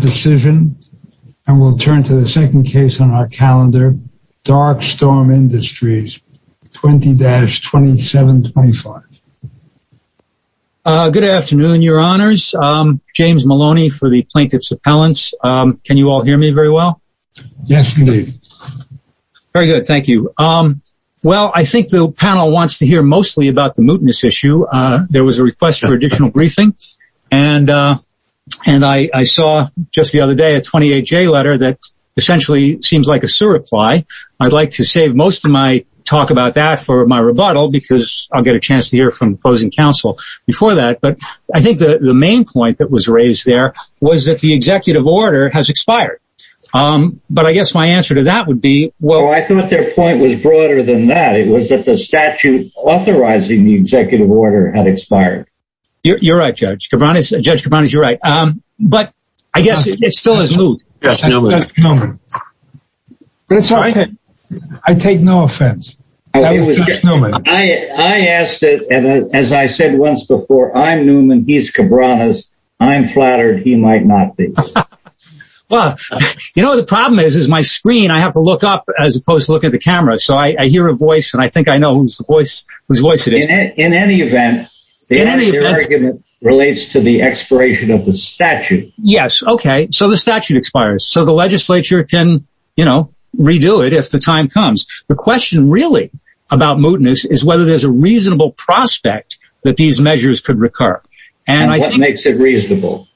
decision and we'll turn to the second case on our calendar Dark Storm Industries 20-2725. Good afternoon your honors, James Maloney for the Plaintiff's Appellants. Can you all hear me very well? Yes indeed. Very good, thank you. Well I think the panel wants to hear mostly about the mootness issue. There was a request for additional briefing and and I saw just the other day a 28-J letter that essentially seems like a sure reply. I'd like to save most of my talk about that for my rebuttal because I'll get a chance to hear from opposing counsel before that. But I think the the main point that was raised there was that the executive order has expired. But I guess my answer to that would be well I thought their point was broader than that. It was that the statute authorizing the executive order had expired. You're right Judge Cabranes, Judge Cabranes you're right. But I guess it still is moot. I take no offense. I asked as I said once before I'm Newman, he's Cabranes. I'm flattered he might not be. Well you know the problem is is my screen I have to look up as opposed to look at the camera so I hear a voice and I think I know whose voice it is. In any event the argument relates to the expiration of the statute. Yes okay so the statute expires so the legislature can you know redo it if the time comes. The question really about mootness is whether there's a reasonable prospect that these measures could recur. And what makes it reasonable?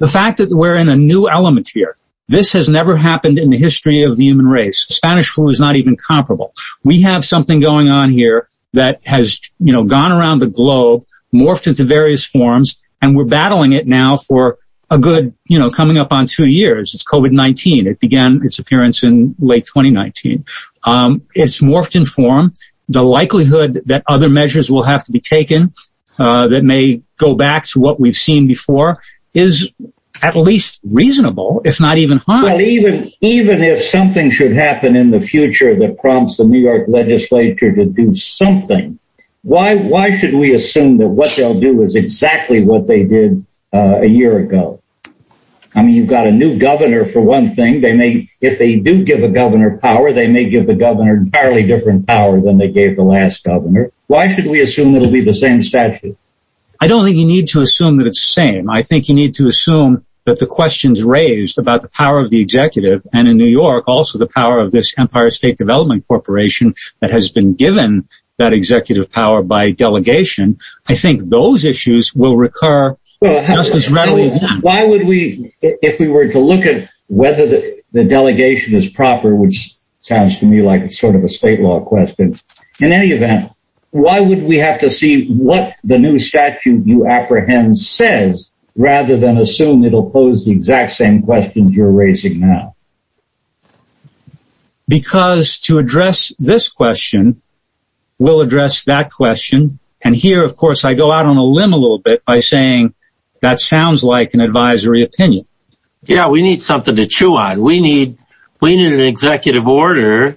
The fact that we're in a new element here. This has never happened in the history of the human race. Spanish flu is not even comparable. We have something going on here that has you know gone around the globe morphed into various forms and we're battling it now for a good you know coming up on two years. It's COVID-19. It began its appearance in late 2019. It's morphed in form. The likelihood that other measures will have to be taken that may go back to what we've seen before is at least reasonable if not even high. Even if something should happen in the future that prompts the New York Legislature to do something why why should we assume that what they'll do is exactly what they did a year ago? I mean you've got a new governor for one thing they may if they do give a governor power they may give the governor entirely different power than they gave the last governor. Why should we assume it'll be the same statute? I don't think you need to assume that it's the same. I think you need to assume that the questions raised about the power of the executive and in New York also the power of this Empire State Development Corporation that has been given that executive power by delegation I think those issues will recur just as readily. Why would we if we were to look at whether the delegation is proper which sounds to me like it's sort of a state law question. In any event why would we have to see what the new statute you apprehend says rather than assume it'll pose the exact same questions you're raising now? Because to address this question we'll address that question and here of course I go out on a limb a little bit by saying that sounds like an advisory opinion. Yeah we need something to chew on we need we need an executive order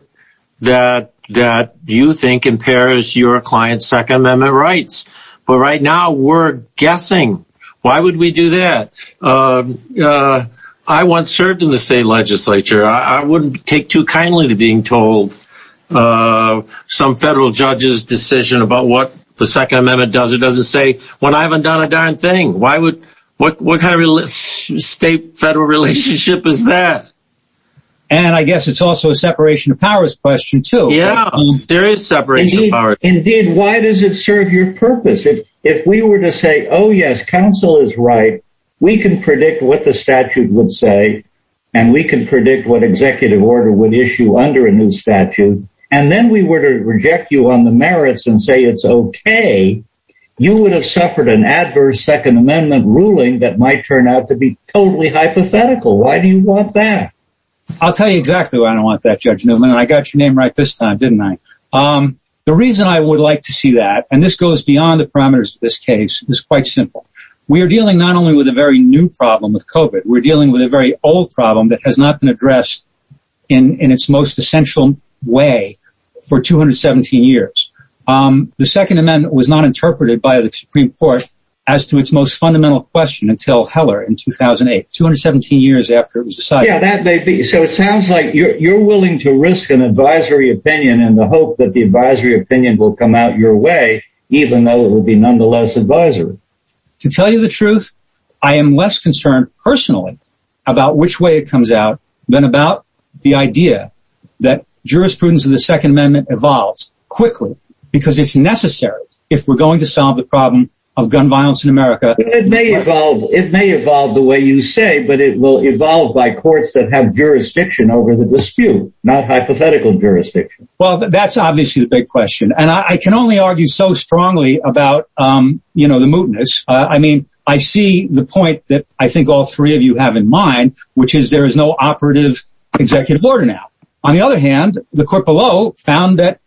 that that you think impairs your client's Second Amendment rights. But right now we're guessing. Why would we do that? I once served in the state legislature I wouldn't take too kindly to being told some federal judge's decision about what the Second Amendment does it doesn't say when I haven't done a darn thing. Why would what what kind of real estate federal relationship is that? And I guess it's also a separation of powers question too. Yeah there is separation of powers. Indeed why does it serve your purpose? If we were to say oh yes counsel is right we can predict what the statute would say and we can predict what executive order would issue under a new statute and then we were to reject you on the merits and say it's okay you would have suffered an adverse Second Amendment ruling that might turn out to be totally hypothetical. Why do you want that? I'll tell you exactly why I don't want that Judge Newman and I got your name right this time didn't I? The reason I would like to see that and this goes beyond the parameters of this case is quite simple. We are dealing not only with a very new problem with COVID we're dealing with a very old problem that has not been addressed in in its most essential way for 217 years. The Second Amendment was not interpreted by the Supreme Court as to its most fundamental question until Heller in 2008 217 years after it was decided. Yeah that may be so it sounds like you're willing to risk an advisory opinion in the hope that the advisory opinion will come out your way even though it would be nonetheless advisory. To tell you the truth I am less concerned personally about which way it comes out than about the idea that jurisprudence of the Second Amendment evolves quickly because it's necessary if we're going to solve the problem of gun violence in America. It may evolve it will evolve by courts that have jurisdiction over the dispute not hypothetical jurisdiction. Well that's obviously the big question and I can only argue so strongly about you know the mootness. I mean I see the point that I think all three of you have in mind which is there is no operative executive order now. On the other hand the court below found that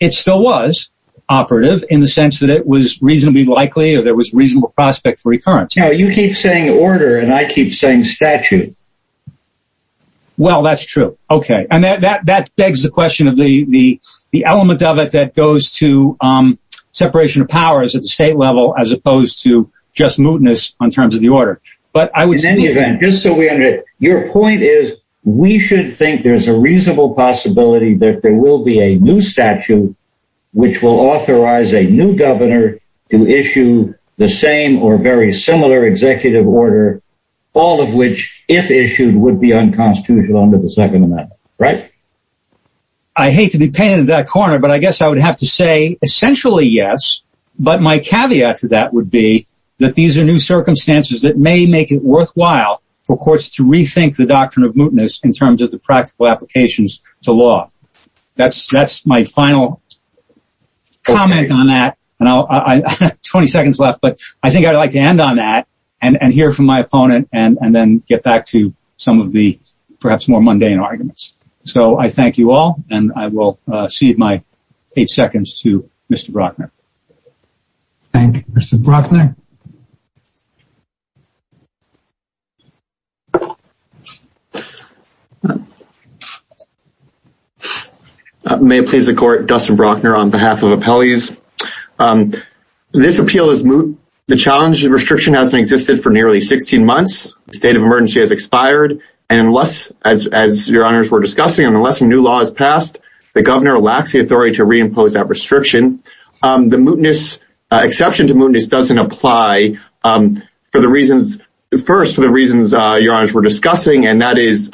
it still was operative in the sense that it was reasonably likely or there was reasonable prospect for recurrence. Now you keep saying order and I keep saying statute. Well that's true okay and that begs the question of the the element of it that goes to separation of powers at the state level as opposed to just mootness on terms of the order. But I would say in any event just so we understand your point is we should think there's a reasonable possibility that there will be a new statute which will authorize a new governor to issue the same or very similar executive order all of which if issued would be unconstitutional under the Second Amendment right? I hate to be painted in that corner but I guess I would have to say essentially yes but my caveat to that would be that these are new circumstances that may make it worthwhile for courts to rethink the doctrine of mootness in terms of the practical applications to law. That's my final comment on that and I'll I 20 seconds left but I think I'd like to end on that and and hear from my opponent and and then get back to some of the perhaps more mundane arguments. So I thank you all and I will cede my eight seconds to Mr. Brockner. Thank you Mr. Brockner. I may please the court Dustin Brockner on behalf of appellees. This appeal is moot. The challenge of restriction hasn't existed for nearly 16 months. The state of emergency has expired and unless as your honors were discussing and unless a new law is passed the governor lacks the authority to reimpose that for the reasons first for the reasons your honors were discussing and that is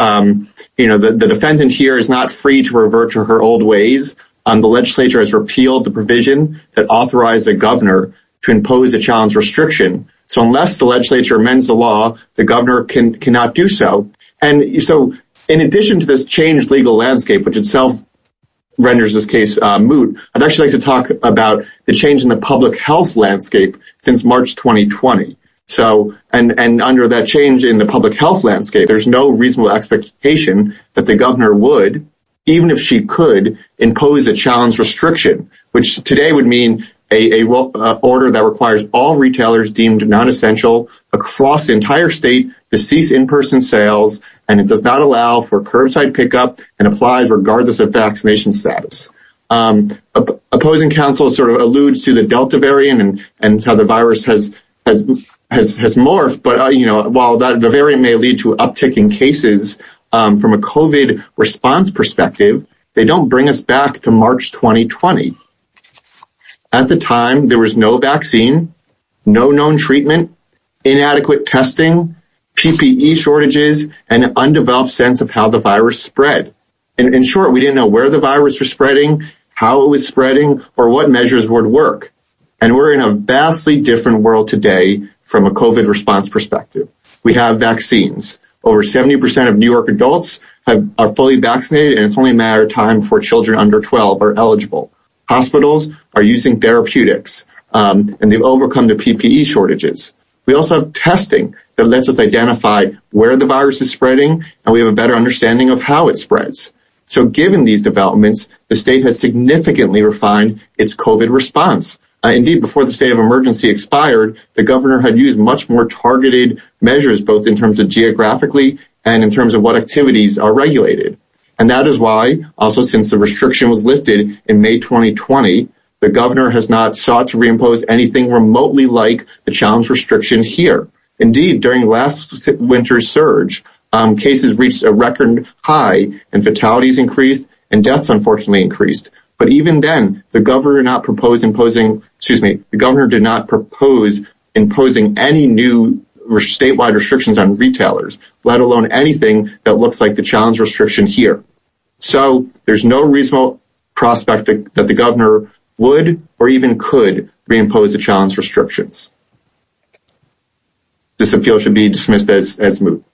you know the defendant here is not free to revert to her old ways and the legislature has repealed the provision that authorized a governor to impose a challenge restriction. So unless the legislature amends the law the governor cannot do so and so in addition to this changed legal landscape which itself renders this case moot I'd actually like to talk about the change in the public health landscape since March 2020 so and and under that change in the public health landscape there's no reasonable expectation that the governor would even if she could impose a challenge restriction which today would mean a order that requires all retailers deemed non-essential across the entire state to cease in-person sales and it does not allow for curbside pickup and applies regardless of vaccination status. Opposing counsel sort of alludes to the Delta variant and and how the virus has has has morphed but you know while the variant may lead to uptick in cases from a COVID response perspective they don't bring us back to March 2020. At the time there was no vaccine, no known treatment, inadequate testing, PPE shortages, and undeveloped sense of how the virus spread and in short we didn't know where the virus was spreading, how it was spreading, or what measures would work and we're in a vastly different world today from a COVID response perspective. We have vaccines. Over 70% of New York adults are fully vaccinated and it's only a matter of time for children under 12 are eligible. Hospitals are using therapeutics and they've overcome the PPE shortages. We also have testing that lets us identify where the virus is spreading and we have a better understanding of how it spreads. So given these developments the state has significantly refined its COVID response. Indeed before the state of emergency expired the governor had used much more targeted measures both in terms of geographically and in terms of what activities are regulated and that is why also since the restriction was lifted in May 2020 the governor has not sought to reimpose anything remotely like the challenge restriction here. Indeed during last winter's surge cases reached a record high and fatalities increased and deaths unfortunately increased but even then the governor did not propose imposing any new statewide restrictions on retailers let alone anything that looks like the challenge restriction here. So there's no reasonable prospect that the governor would or even could reimpose the challenge restrictions. This appeal should be dismissed as moved.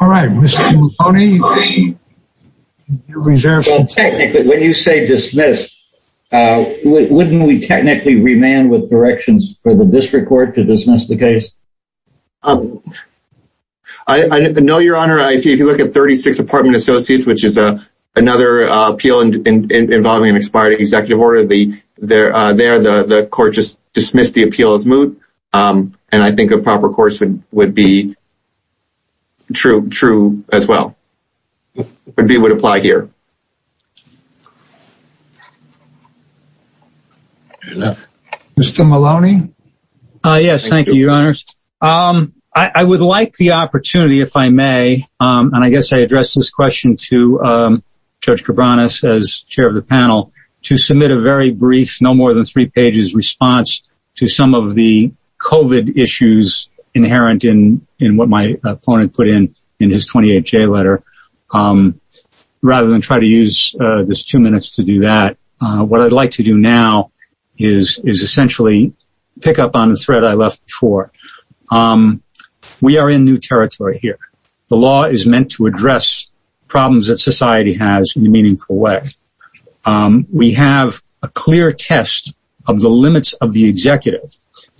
All right Mr. Mulroney, your reservations. Technically when you say dismissed wouldn't we technically remand with directions for the district court to dismiss the case? I know your honor if you look at 36 apartment associates which is a another appeal involving an expired executive order the there the court just dismissed the appeal as moot and I think a proper course would would be true true as well would be would apply here. Mr. Maloney. Yes thank you your honors. I would like the opportunity if I may and I guess I address this question to Judge Cabranes as chair of the panel to submit a very brief no more than three pages response to some of the COVID issues inherent in in what my opponent put in in his 28 J letter. Rather than try to use this two minutes to do that what I'd like to do now is is essentially pick up on the thread I left before. We are in new territory here. The law is meant to address problems that society has in a way. We have a clear test of the limits of the executive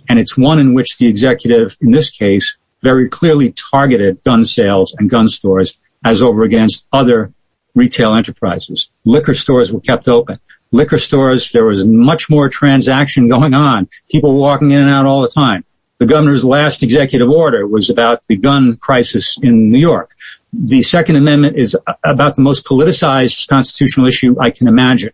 and it's one in which the executive in this case very clearly targeted gun sales and gun stores as over against other retail enterprises. Liquor stores were kept open. Liquor stores there was much more transaction going on. People walking in and out all the time. The governor's last executive order was about the gun crisis in New York. The second amendment is about the most politicized constitutional issue I can imagine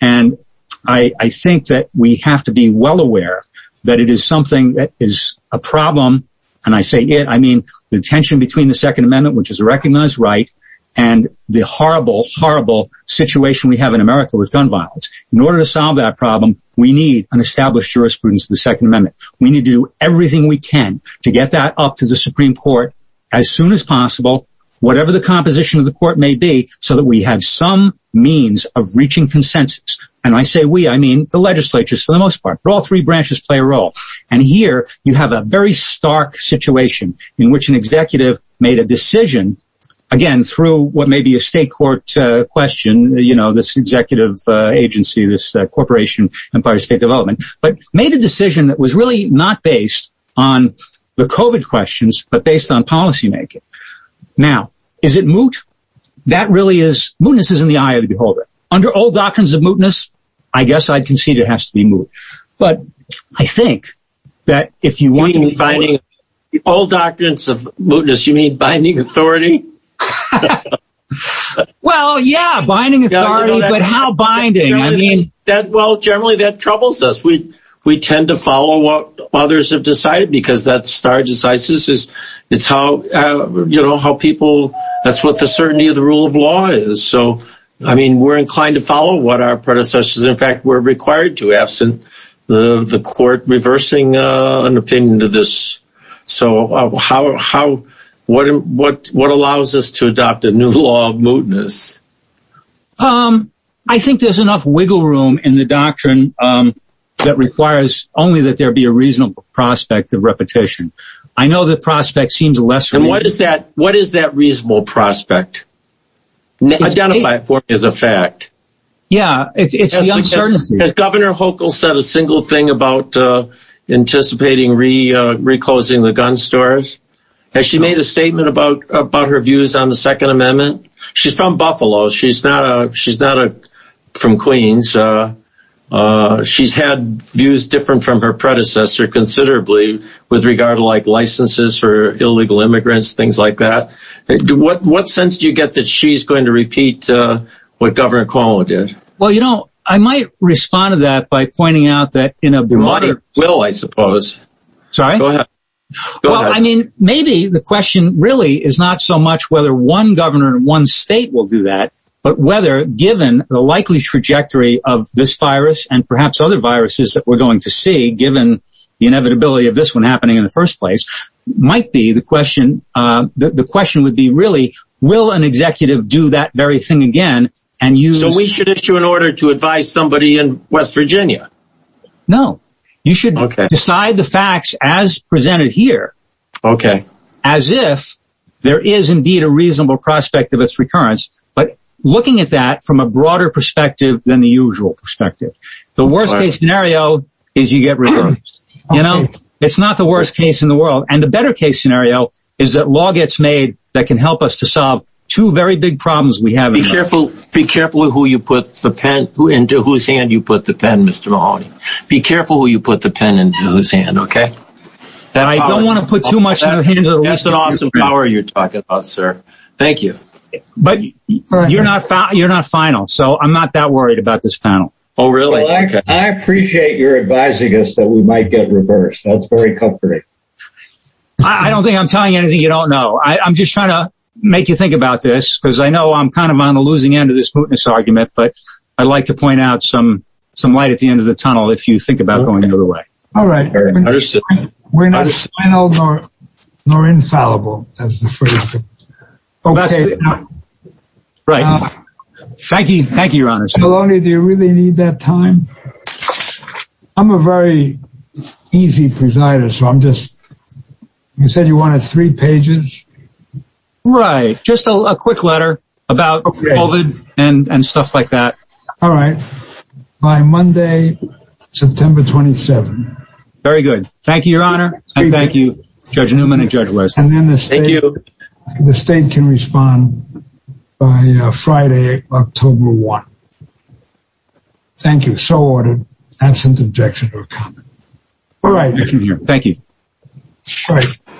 and I think that we have to be well aware that it is something that is a problem and I say it I mean the tension between the Second Amendment which is a recognized right and the horrible horrible situation we have in America with gun violence. In order to solve that problem we need an established jurisprudence of the Second Amendment. We need to do everything we can to get that up to the Supreme Court as soon as possible whatever the composition of the court may be so that we have some means of reaching consensus and I say we I mean the legislature's for the most part all three branches play a role and here you have a very stark situation in which an executive made a decision again through what may be a state court question you know this executive agency this Corporation Empire State Development but made a decision that was really not based on the COVID questions but based on policymaking. Now is it moot? That really is, mootness is in the eye of the beholder. Under old doctrines of mootness I guess I'd concede it has to be moot but I think that if you want Old doctrines of mootness you mean binding authority? Well yeah binding authority but how binding? I mean that well generally that troubles us we tend to follow what others have decided because that's our decisions it's how you know how people that's what the certainty of the rule of law is so I mean we're inclined to follow what our predecessors in fact were required to absent the the court reversing an opinion to this so how what what what allows us to adopt a new law of mootness? I think there's enough wiggle room in the doctrine that requires only that there be a reasonable prospect of repetition. I know the prospect seems lesser. What is that what is that reasonable prospect? Identify it for me as a fact. Yeah it's the uncertainty. Has Governor Hochul said a single thing about anticipating re-reclosing the gun stores? Has she made a statement about about her views on the Second Amendment? She's from Queens. She's had views different from her predecessor considerably with regard to like licenses for illegal immigrants things like that. What what sense do you get that she's going to repeat what Governor Cuomo did? Well you know I might respond to that by pointing out that you know. Money will I suppose. Sorry? Go ahead. I mean maybe the question really is not so much whether one governor in one state will do that but whether given the likely trajectory of this virus and perhaps other viruses that we're going to see given the inevitability of this one happening in the first place might be the question that the question would be really will an executive do that very thing again and use. So we should issue an order to advise somebody in West Virginia? No. You should decide the facts as presented here. Okay. As if there is indeed a reasonable prospect of its recurrence but looking at that from a broader perspective than the usual perspective. The worst case scenario is you get reversed. You know it's not the worst case in the world and the better case scenario is that law gets made that can help us to solve two very big problems we have. Be careful be careful who you put the pen into whose hand you put the pen Mr. Mahoney. Be careful who you put the pen into whose hand okay? And I don't want to put too much into the hands of the listener. That's awesome power you're talking about sir. Thank you. But you're not final so I'm not that worried about this panel. Oh really? I appreciate your advising us that we might get reversed. That's very comforting. I don't think I'm telling you anything you don't know. I'm just trying to make you think about this because I know I'm kind of on the losing end of this mootness argument but I'd like to point out some some light at the end of the tunnel if you think about going the other way. All right. We're not final nor infallible as the phrase says. Okay. Right. Thank you. Thank you your honor. Maloney do you really need that time? I'm a very easy presider so I'm just you said you wanted three pages? Right just a quick letter about COVID and stuff like that. All right. By Monday September 27. Very good. Thank you your honor. Thank you Judge Newman and Judge West. And then the state can respond by Friday October 1. Thank you. So ordered. Absent objection or comment. All right. Thank you.